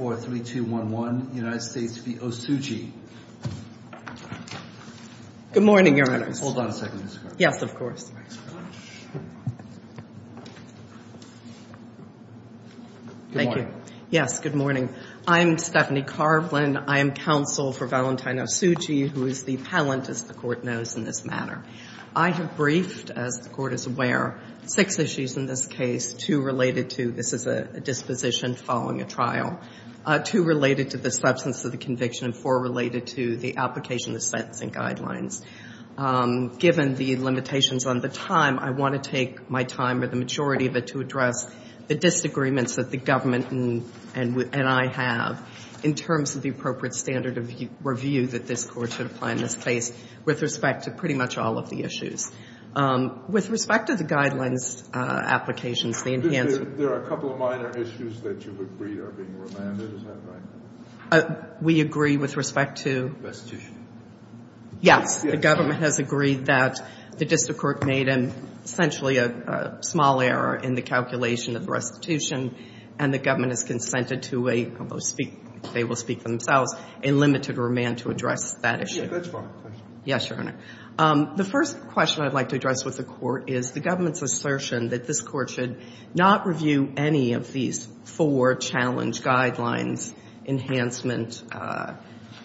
Good morning, Your Honors. Hold on a second, Ms. Carlin. Yes, of course. Thank you. Yes, good morning. I'm Stephanie Carlin. I am counsel for Valentine Osuji, who is the palantist the Court knows in this matter. I have briefed, as the Court is aware, six issues in this case, two related to this is a disposition following a trial, two related to the substance of the conviction, and four related to the application of sentencing guidelines. Given the limitations on the time, I want to take my time or the majority of it to address the disagreements that the government and I have in terms of the appropriate standard of review that this Court should apply in this case with respect to pretty much all of the issues. With respect to the guidelines applications, the enhanced — There are a couple of minor issues that you've agreed are being remanded, is that right? We agree with respect to — Restitution. Yes. Yes. The government has agreed that the district court made, essentially, a small error in the calculation of restitution, and the government has consented to a — they will speak for themselves — a limited remand to address that issue. Yes, that's fine. Yes, Your Honor. The first question I'd like to address with the Court is the government's assertion that this Court should not review any of these four challenge guidelines, enhancement,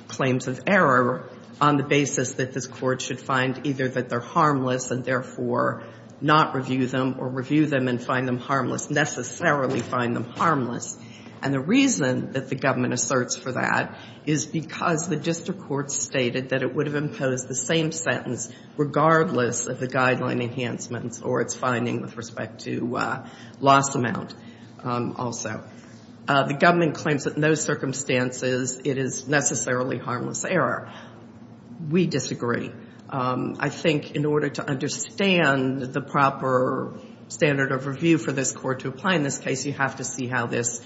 claims of error, on the basis that this Court should find either that they're harmless and therefore not review them or review them and find them harmless, necessarily find them harmless. And the reason that the government asserts for that is because the district court stated that it would have imposed the same sentence regardless of the guideline enhancements or its finding with respect to loss amount also. The government claims that in those circumstances it is necessarily harmless error. We disagree. I think in order to understand the proper standard of review for this Court to apply in this case, you have to see how this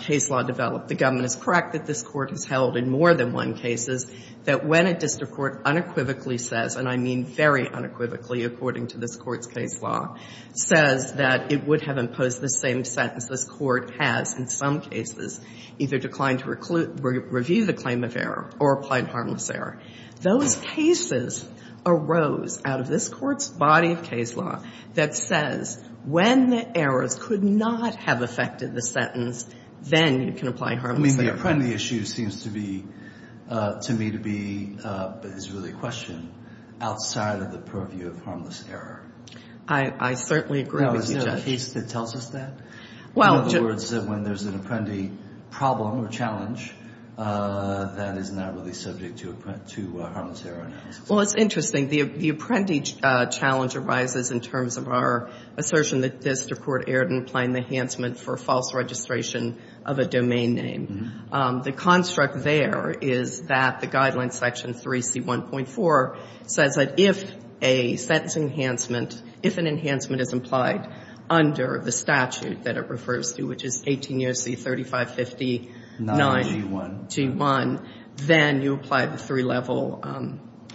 case law developed. The government is correct that this Court has held in more than one cases that when a district court unequivocally says, and I mean very unequivocally according to this Court's case law, says that it would have imposed the same sentence this Court has in some cases, either declined to review the claim of error or applied harmless error. Those cases arose out of this Court's body of case law that says when errors could not have affected the sentence, then you can apply harmless error. I mean, the apprendee issue seems to be, to me to be, is really a question outside of the purview of harmless error. I certainly agree with you, Judge. Well, is there a piece that tells us that? In other words, when there's an apprendee problem or challenge that is not really subject to harmless error analysis. Well, it's interesting. The apprendee challenge arises in terms of our assertion that this Court erred in applying the enhancement for false registration of a domain name. The construct there is that the Guidelines Section 3C1.4 says that if a sentence enhancement, if an enhancement is implied under the statute that it refers to, which is 18 U.S.C. 3559. Not G1. G1. Then you apply the three-level,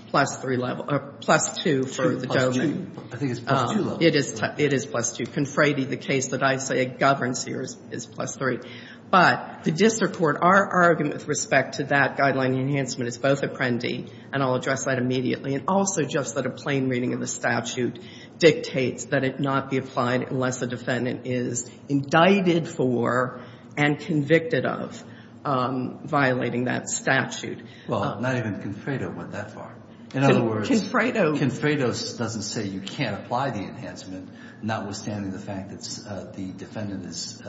plus three-level, or plus two for the domain. I think it's plus two-level. It is plus two. Confrady, the case that I say governs here, is plus three. But the district court, our argument with respect to that guideline enhancement is both apprendee, and I'll address that immediately, and also just that a plain reading of the statute dictates that it not be applied unless the defendant is indicted for and convicted of violating that statute. Well, not even Confrado went that far. In other words, Confrado doesn't say you can't apply the enhancement, notwithstanding the fact that the defendant has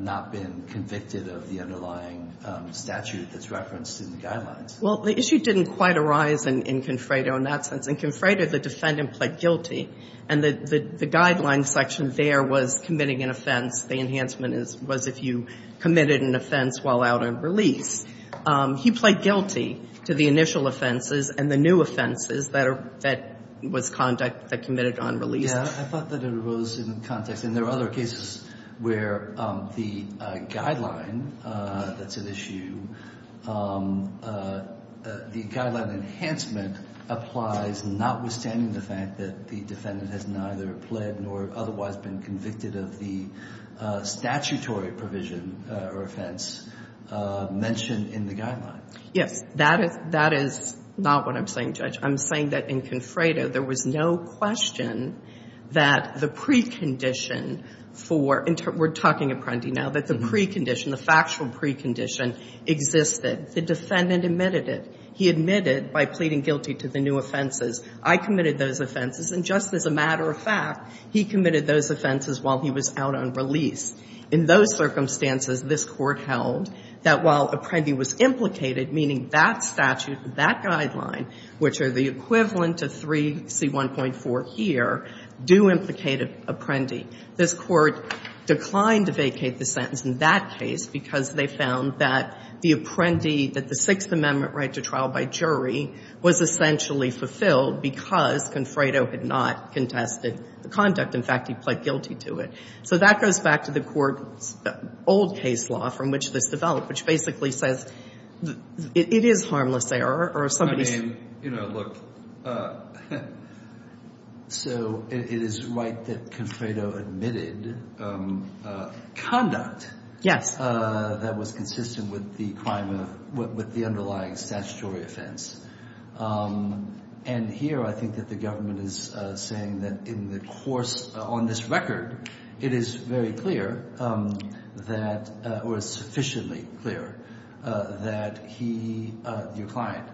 not been convicted of the underlying statute that's referenced in the guidelines. Well, the issue didn't quite arise in Confrado in that sense. In Confrado, the defendant pled guilty, and the guideline section there was committing an offense. The enhancement was if you committed an offense while out on release. He pled guilty to the initial offenses and the new offenses that was conducted, that committed on release. Yeah. I thought that it arose in context. And there are other cases where the guideline, that's an issue, the guideline enhancement applies notwithstanding the fact that the defendant has neither pled nor otherwise been convicted of the statutory provision or offense mentioned in the guidelines. Yes. That is not what I'm saying, Judge. I'm saying that in Confrado, there was no question that the precondition, the factual precondition existed. The defendant admitted it. He admitted by pleading guilty to the new offenses. I committed those offenses. And just as a matter of fact, he committed those offenses while he was out on release. In those circumstances, this Court held that while Apprendi was implicated, meaning that statute, that guideline, which are the equivalent to 3C1.4 here, do implicate Apprendi. This Court declined to vacate the sentence in that case because they found that the Apprendi, that the Sixth Amendment right to trial by jury was essentially fulfilled because Confrado had not contested the conduct. In fact, he pled guilty to it. So that goes back to the Court's old case law from which this developed, which basically says it is harmless error. I mean, you know, look, so it is right that Confrado admitted conduct that was consistent with the crime of, with the underlying statutory offense. And here I think that the government is saying that in the course, on this record, it is very clear that, or sufficiently clear that he, your client,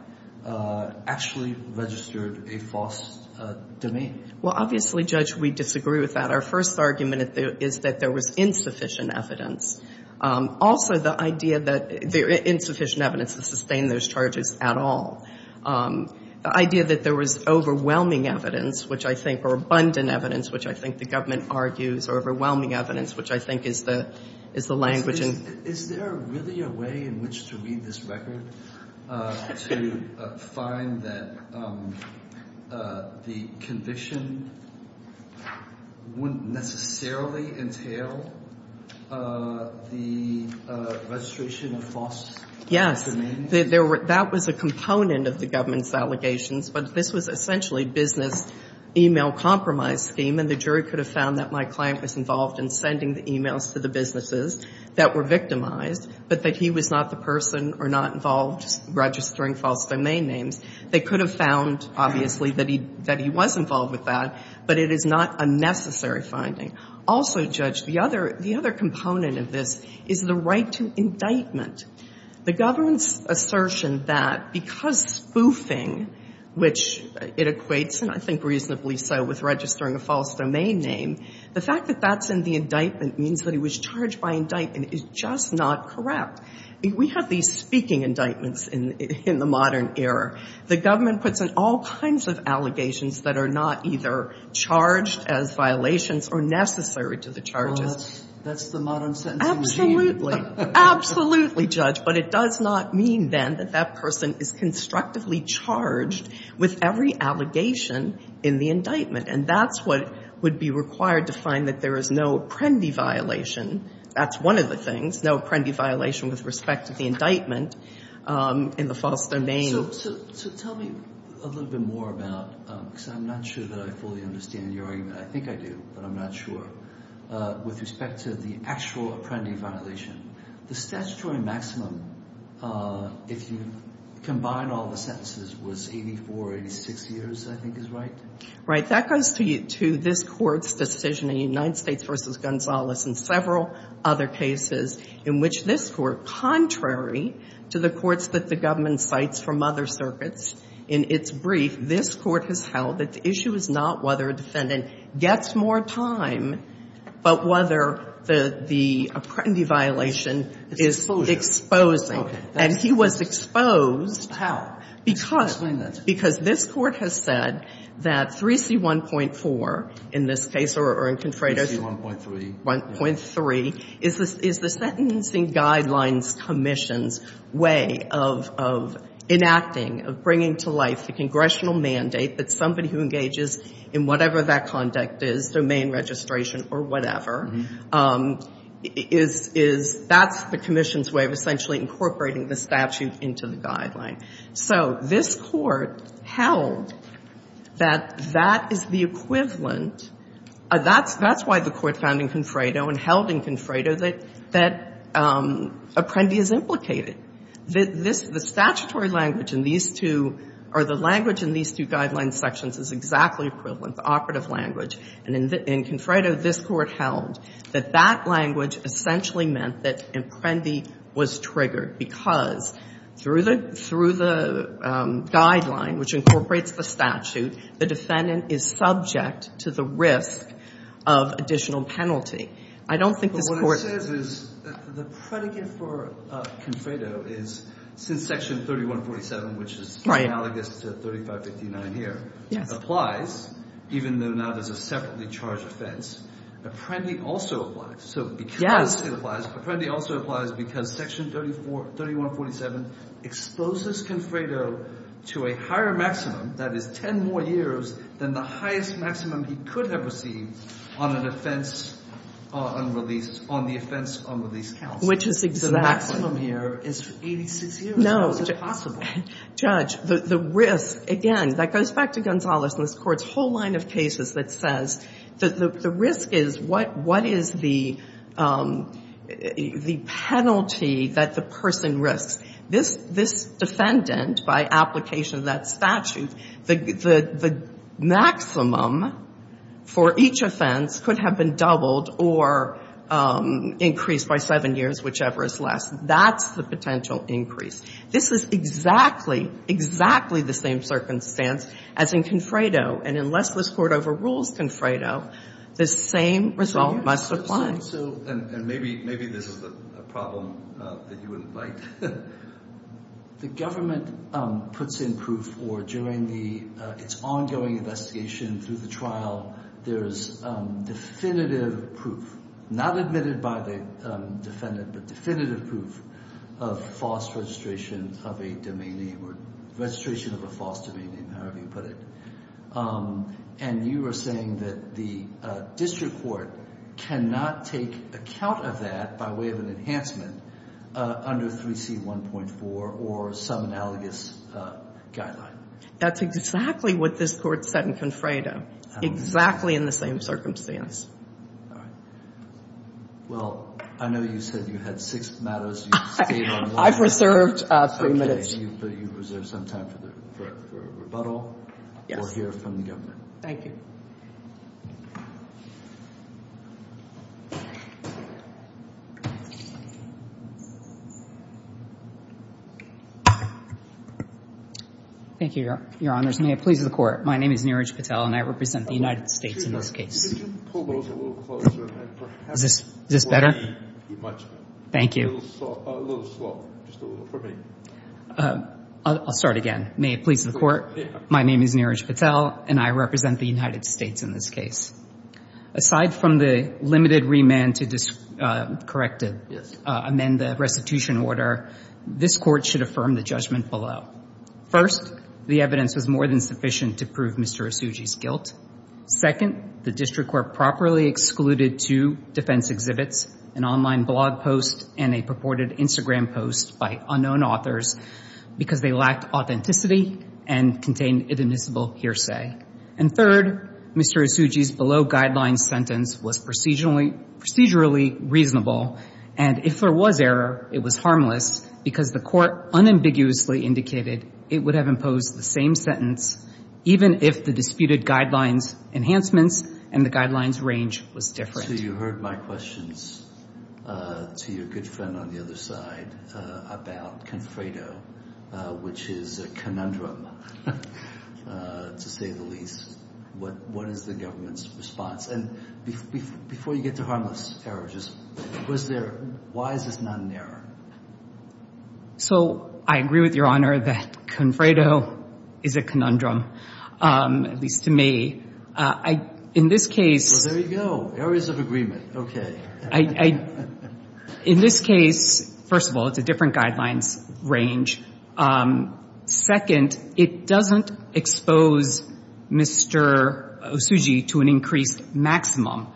actually registered a false demean. Well, obviously, Judge, we disagree with that. Our first argument is that there was insufficient evidence. Also, the idea that insufficient evidence to sustain those charges at all. The idea that there was overwhelming evidence, which I think, or abundant evidence, which I think the government argues, overwhelming evidence, which I think is the language. Is there really a way in which to read this record to find that the conviction wouldn't necessarily entail the registration of false demean? Yes. That was a component of the government's allegations. But this was not the case. The government's assertion that the client was involved in sending the emails to the businesses that were victimized, but that he was not the person or not involved registering false domain names. They could have found, obviously, that he was involved with that, but it is not a necessary finding. Also, Judge, the other component of this is the right to indictment. The government's assertion that because he was spoofing, which it equates, and I think reasonably so, with registering a false domain name, the fact that that's in the indictment means that he was charged by indictment is just not correct. We have these speaking indictments in the modern era. The government puts in all kinds of allegations that are not either charged as violations or necessary to the charges. Well, that's the modern sentencing scheme. Absolutely. Absolutely, Judge. But it does not mean, then, that that person is constructively charged with every allegation in the indictment. And that's what would be required to find that there is no apprendi violation. That's one of the things. No apprendi violation with respect to the indictment in the false domain. So tell me a little bit more about, because I'm not sure that I fully understand your argument. I think I do, but I'm not sure. With respect to the actual apprendi violation, the statutory maximum, if you combine all the sentences, was 84 or 86 years, I think is right? Right. That goes to this Court's decision in United States v. Gonzalez and several other cases in which this Court, contrary to the courts that the government cites from other circuits, in its brief, this Court has held that the issue is not whether a defendant gets more time, but whether the apprendi violation is exposing. And he was exposed. How? Because this Court has said that 3C1.4 in this case or in Contreras. 3C1.3. 1.3 is the Sentencing Guidelines Commission's way of enacting, of bringing to life the congressional mandate that somebody who engages in whatever that conduct is, domain registration or whatever, is, that's the Commission's way of essentially incorporating the statute into the guideline. So this Court held that that is the equivalent. That's why the Court found in Confredo and held in Confredo that apprendi is implicated. The statutory language in these two or the language in these two guideline sections is exactly equivalent, the operative language. And in Confredo, this Court held that that language essentially meant that apprendi was triggered because through the guideline, which incorporates the statute, the defendant is subject to the risk of additional penalty. I don't think this Court... But what it says is that the predicate for Confredo is, since Section 3147, which is analogous to 3559 here, applies, even though now there's a separately charged offense. Apprendi also applies. Yes. Apprendi also applies because Section 3147 exposes Confredo to a higher maximum, that is 10 more years, than the highest maximum he could have received on an offense unreleased, on the offense unreleased counsel. Which is exactly... The maximum here is 86 years. No. How is it possible? Judge, the risk, again, that goes back to Gonzales and this Court's whole line of cases that says the risk is what is the penalty that the person risks. This defendant, by application of that statute, the maximum for each offense could have been doubled or increased by 7 years, whichever is less. That's the potential increase. This is exactly, exactly the same circumstance as in Confredo. And unless this Court overrules Confredo, the same result must apply. And maybe this is a problem that you wouldn't like. The government puts in proof or during its ongoing investigation through the trial, there's definitive proof, not admitted by the defendant, but definitive proof of false registration of a domain name or registration of a false domain name, however you put it. And you are saying that the District Court cannot take account of that by way of an enhancement under 3C1.4 or some analogous guideline. That's exactly what this Court said in Confredo. Exactly in the same circumstance. Well, I know you said you had six matters. I've reserved three minutes. You've reserved some time for a rebuttal. Yes. Or hear from the government. Thank you. Thank you, Your Honors. May it please the Court. My name is Neeraj Patel and I represent the United States in this case. Is this better? Thank you. A little slow. Just a little. For me. I'll start again. May it please the Court. My name is Neeraj Patel and I represent the United States in this case. Aside from the limited remand to correct it, amend the restitution order, this Court should affirm the judgment below. First, the evidence was more than sufficient to prove Mr. Isugi's guilt. Second, the District Court properly excluded two defense exhibits, an online blog post and a purported Instagram post by unknown authors because they lacked authenticity and contained inadmissible hearsay. And third, Mr. Isugi's below-guideline sentence was procedurally reasonable and if there was error, it was harmless because the Court unambiguously indicated it would have imposed the same sentence even if the disputed guidelines enhancements and the guidelines range was different. So you heard my questions to your good friend on the other side about Confredo, which is a conundrum to say the least. What is the government's response? And before you get to harmless errors, why is this not an error? So I agree with Your Honor that Confredo is a conundrum, at least to me. In this case... Well, there you go. Areas of agreement. Okay. In this case, first of all, it's a different guidelines range. Second, it doesn't expose Mr. Isugi to an increased maximum.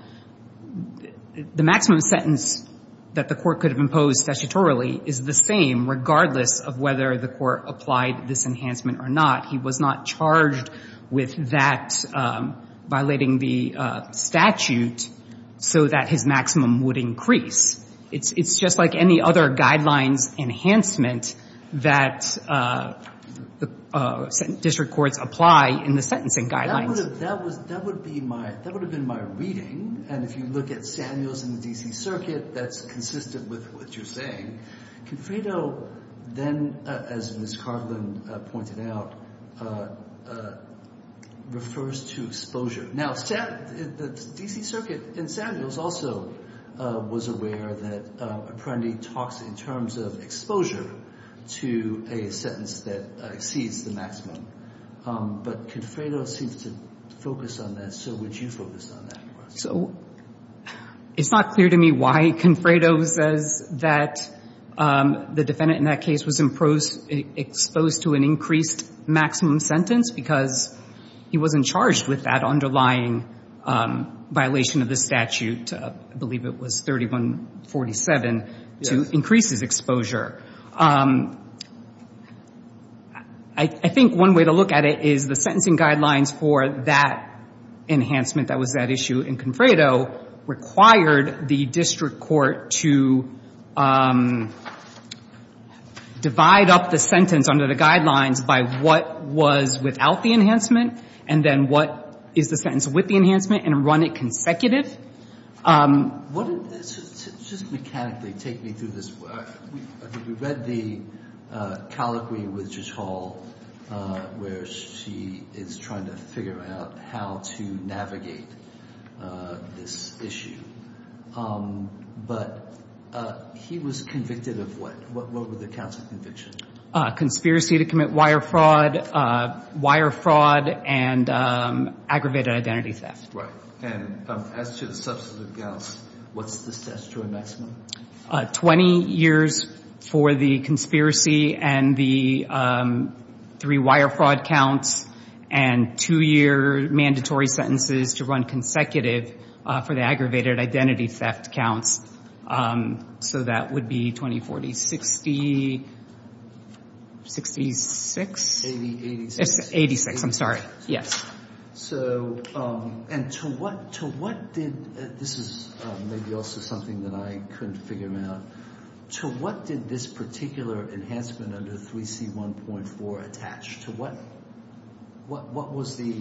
The maximum sentence that the Court could have imposed statutorily is the same regardless of whether the Court applied this enhancement or not. He was not charged with that violating the statute so that his maximum would increase. It's just like any other guidelines enhancement that district courts apply in the sentencing guidelines. That would have been my reading. And if you look at Samuels and the D.C. Circuit, that's consistent with what you're saying. Confredo then, as Ms. Carlin pointed out, refers to exposure. Now, the D.C. Circuit in Samuels also was aware that Apprendi talks in terms of exposure to a sentence that exceeds the maximum. But Confredo seems to focus on that. So would you focus on that? It's not clear to me why Confredo says that the defendant in that case was exposed to an increased maximum sentence because he wasn't charged with that underlying violation of the statute. I believe it was 3147 to increase his exposure. I think one way to look at it is the sentencing guidelines for that enhancement that was that issue in Confredo required the district court to divide up the sentence under the guidelines by what was without the enhancement and then what is the sentence with the enhancement and run it consecutive. Just mechanically take me through this. We read the colloquy with Judge Hall where she is trying to figure out how to navigate this issue. But he was convicted of what? What were the counts of conviction? Conspiracy to commit wire fraud, wire fraud and aggravated identity theft. As to the substantive counts, what's the statutory maximum? 20 years for the conspiracy and the three wire fraud counts and two year mandatory sentences to run consecutive for the aggravated identity theft counts. So that would be 20, 40, 60, 66, 86, I'm sorry. Yes. And to what did this is maybe also something that I couldn't figure out. To what did this particular enhancement under 3C1.4 attach? What was the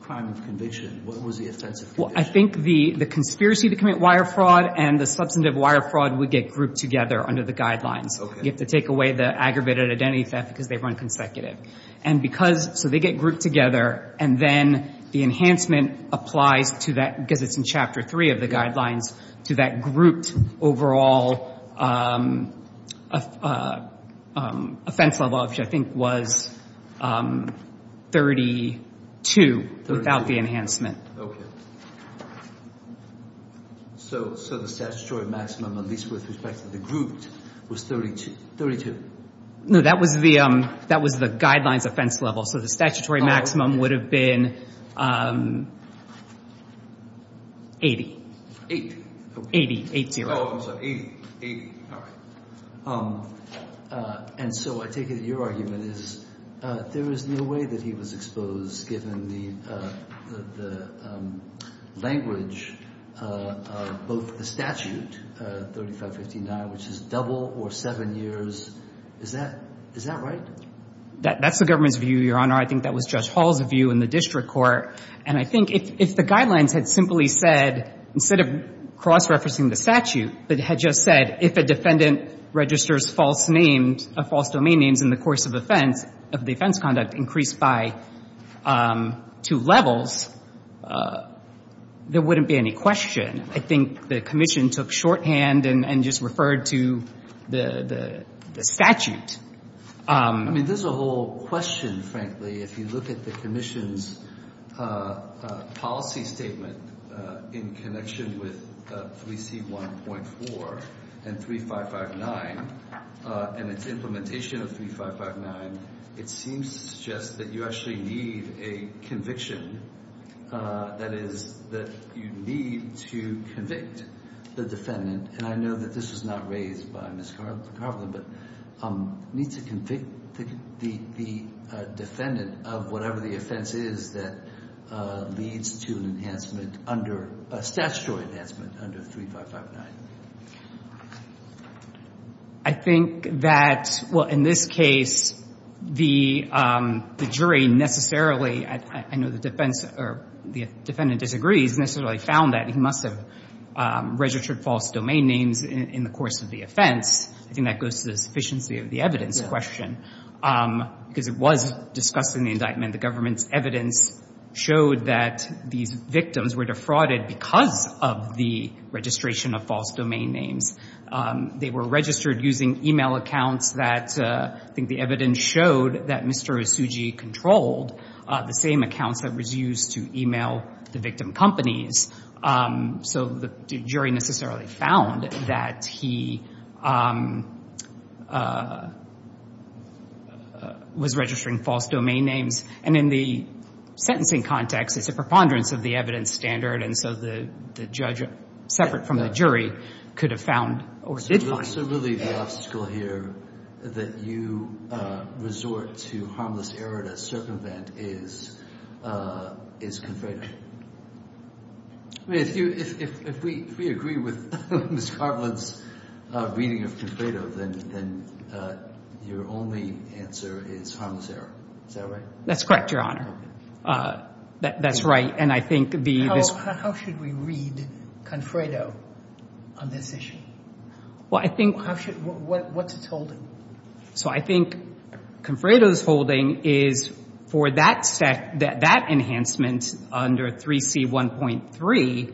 crime of conviction? What was the offensive conviction? I think the conspiracy to commit wire fraud and the substantive wire fraud would get grouped together under the guidelines. You have to take away the aggravated identity theft because they run consecutive. So they get grouped together and then the enhancement applies to that, because it's in Chapter 3 of the guidelines, to that grouped overall offense level, which I think was 32 without the enhancement. Okay. So the statutory maximum, at least with respect to the grouped, was 32? No, that was the guidelines offense level. So the statutory maximum would have been 80. Eight. 80, 8-0. Oh, I'm sorry, 80. And so I take it that your argument is there is no way that he was exposed given the language of both the statute, 35-59, which is double or seven years. Is that right? That's the government's view, Your Honor. I think that was Judge Hall's view in the district court. And I think if the guidelines had simply said, instead of cross-referencing the statute, but had just said, if a defendant registers false domain names in the course of offense, if the offense conduct increased by two levels, there wouldn't be any question. I think the commission took shorthand and just referred to the statute. I mean, there's a whole question, frankly, if you look at the commission's policy statement in connection with 3C1.4 and 35-59 and its implementation of 35-59. It seems to suggest that you actually need a conviction. That is, that you need to convict the defendant. And I know that this was not raised by Ms. Carlin, but need to convict the defendant of whatever the offense is that leads to an enhancement under, a statutory enhancement under 35-59. I think that, well, in this case, the jury necessarily, I know the defense, or the defendant disagrees, necessarily found that he must have registered false domain names in the course of the offense. I think that goes to the sufficiency of the evidence question. Because it was discussed in the indictment, the government's evidence showed that these victims were defrauded because of the registration of false domain names. They were registered using email accounts that, I think the evidence showed that Mr. Isuji controlled the same accounts that was used to email the victim companies. So the jury necessarily found that he was registering false domain names. And in the sentencing context, it's a preponderance of the evidence standard, and so the judge, separate from the jury, could have found, or did find. So really the obstacle here that you resort to harmless error to circumvent is confraternity. If we agree with Ms. Garland's reading of Confredo, then your only answer is harmless error. Is that right? That's correct, Your Honor. How should we read Confredo on this issue? What's its holding? So I think Confredo's holding is for that enhancement under 3C1.3,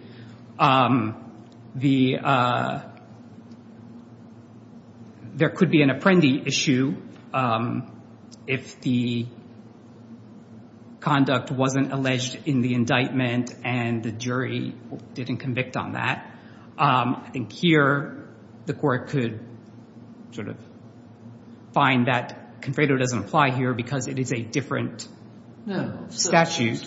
there could be an apprendi issue if the conduct wasn't alleged in the indictment and the jury didn't convict on that. I think here the court could sort of find that Confredo doesn't apply here because it is a different statute.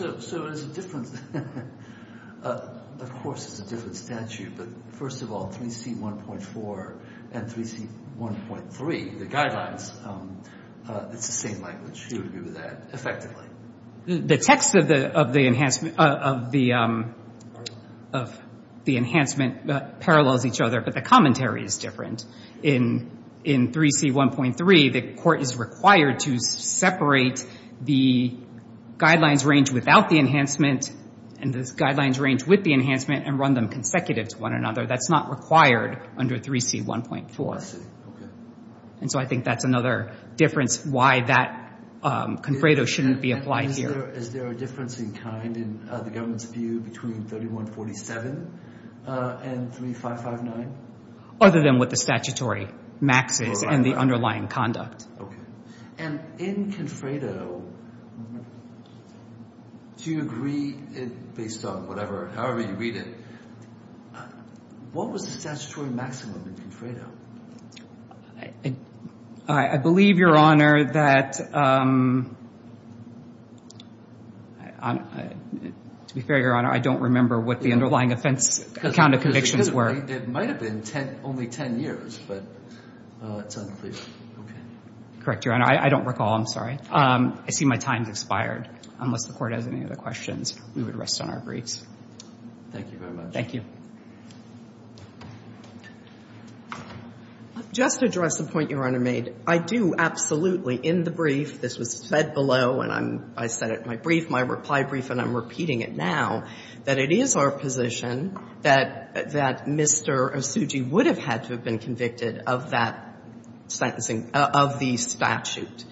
Of course it's a different statute, but first of all, 3C1.4 and 3C1.3, the guidelines, it's the same language. Do you agree with that effectively? The text of the enhancement parallels each other, but the commentary is different. In 3C1.3, the court is required to separate the guidelines range without the enhancement and the guidelines range with the enhancement and run them consecutive to one another. That's not required under 3C1.4. So I think that's another difference why that Confredo shouldn't be applied here. Is there a difference in kind in the government's view between 3147 and 3559? Other than what the statutory max is and the underlying conduct. And in Confredo, do you agree based on whatever, however you read it, what was the statutory maximum in Confredo? I believe, Your Honor, that to be fair, Your Honor, I don't remember what the underlying offense count of convictions were. It might have been only 10 years, but it's unclear. Correct, Your Honor. I don't recall. I'm sorry. I see my time has expired. Unless the court has any other questions, we would rest on our briefs. Thank you very much. Thank you. Just to address the point Your Honor made, I do absolutely, in the brief, this was said below, and I said it in my brief, my reply brief, and I'm repeating it now, that it is our position that Mr. Osuji would have had to have been convicted of that sentencing, of the statute.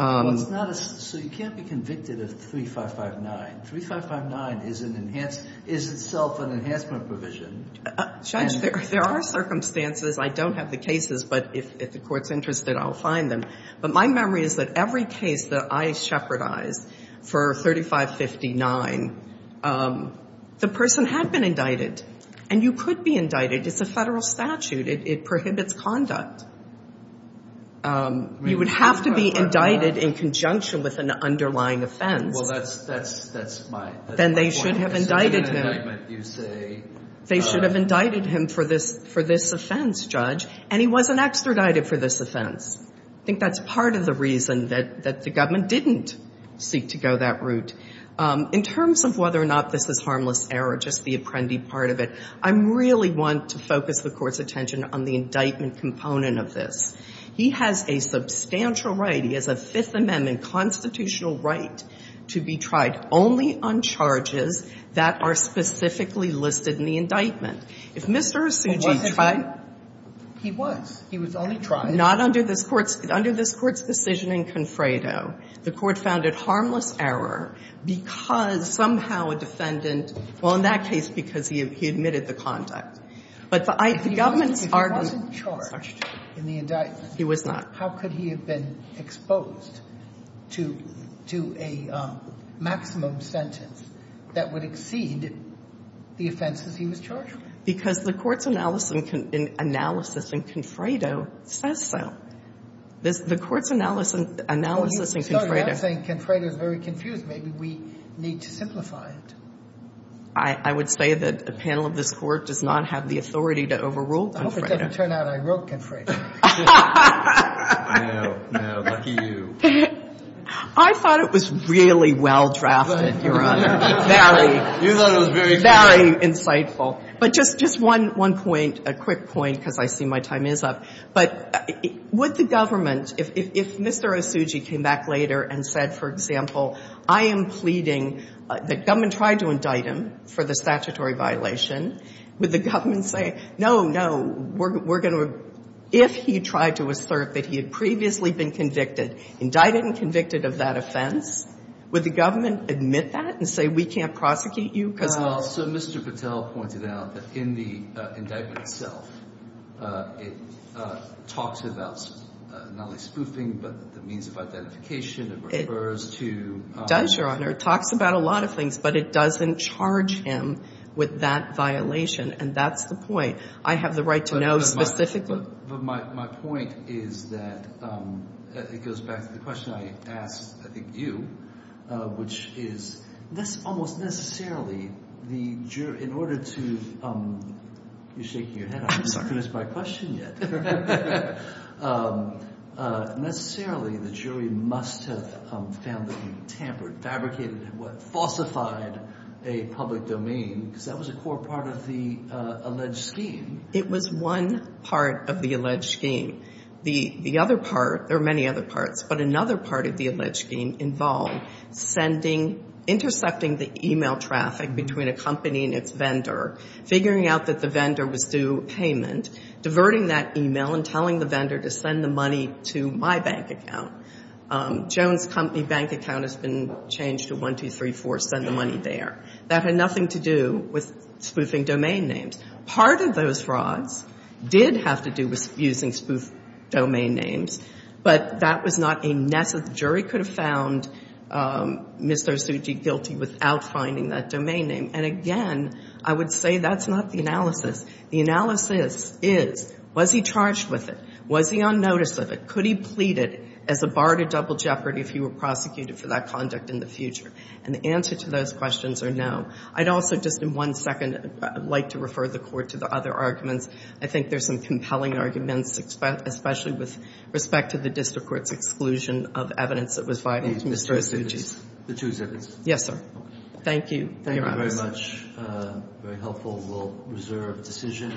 So you can't be convicted of 3559. 3559 is itself an enhancement provision. Judge, there are circumstances. I don't have the cases, but if the court's interested, I'll find them. But my memory is that every case that I shepherdized for 3559, the person had been indicted. And you could be indicted. It's a Federal statute. It prohibits conduct. You would have to be indicted in conjunction with an underlying offense. Well, that's my point. Then they should have indicted him. They should have indicted him for this offense, Judge. And he wasn't extradited for this offense. I think that's part of the reason that the government didn't seek to go that route. In terms of whether or not this is harmless error, just the Apprendi part of it, I really want to focus the Court's attention on the indictment component of this. He has a substantial right. He has a Fifth Amendment constitutional right to be tried only on charges that are specifically listed in the indictment. If Mr. Osuji tried... He was. He was only tried. Not under this Court's decision in Confredo. The Court found it harmless error because somehow a defendant... Well, in that case, because he admitted the conduct. But the government's argument... He wasn't charged in the indictment. He was not. How could he have been exposed to a maximum sentence that would exceed the offenses he was charged with? Because the Court's analysis in Confredo says so. The Court's analysis in Confredo... I'm sorry. You're not saying Confredo is very confused. Maybe we need to simplify it. I would say that the panel of this Court does not have the authority to overrule Confredo. I hope it doesn't turn out I wrote Confredo. I thought it was really well-drafted, Your Honor. Very insightful. But just one point, a quick point, because I see my time is up. But would the government, if Mr. Osuji came back later and said, for example, I am pleading that government tried to indict him for the statutory violation, would the government say, no, no, we're going to... If he tried to assert that he had previously been convicted, indicted and convicted of that offense, would the government admit that and say, we can't prosecute you? So Mr. Patel pointed out that in the indictment itself, it talks about not only spoofing, but the means of identification. It refers to... It does, Your Honor. It talks about a lot of things, but it doesn't charge him with that violation. And that's the point. I have the right to know specifically. But my point is that... It goes back to the question I asked, I think, you, which is almost necessarily the jury... In order to... You're shaking your head. I haven't finished my question yet. Necessarily the jury must have found that he tampered, fabricated, falsified a public domain, because that was a core part of the alleged scheme. It was one part of the alleged scheme. The other part, there are many other parts, but another part of the alleged scheme involved sending, intercepting the email traffic between a company and its vendor, figuring out that the vendor was due payment, diverting that email and telling the vendor to send the money to my bank account. Jones Company bank account has been changed to 1234, send the money there. That had nothing to do with spoofing domain names. Part of those frauds did have to do with using spoof domain names, but that was not a... The jury could have found Mr. Ozuji guilty without finding that domain name. And again, I would say that's not the analysis. The analysis is, was he charged with it? Was he on notice of it? Could he plead it as a bar to double jeopardy if he were prosecuted for that conduct in the future? And the answer to those questions are no. I'd also just in one second like to refer the Court to the other arguments. I think there's some compelling arguments, especially with respect to the District Court's exclusion of evidence that was violating Mr. Ozuji's. The two zippers. Yes, sir. Thank you. Thank you very much. Very helpful. We'll reserve the decision.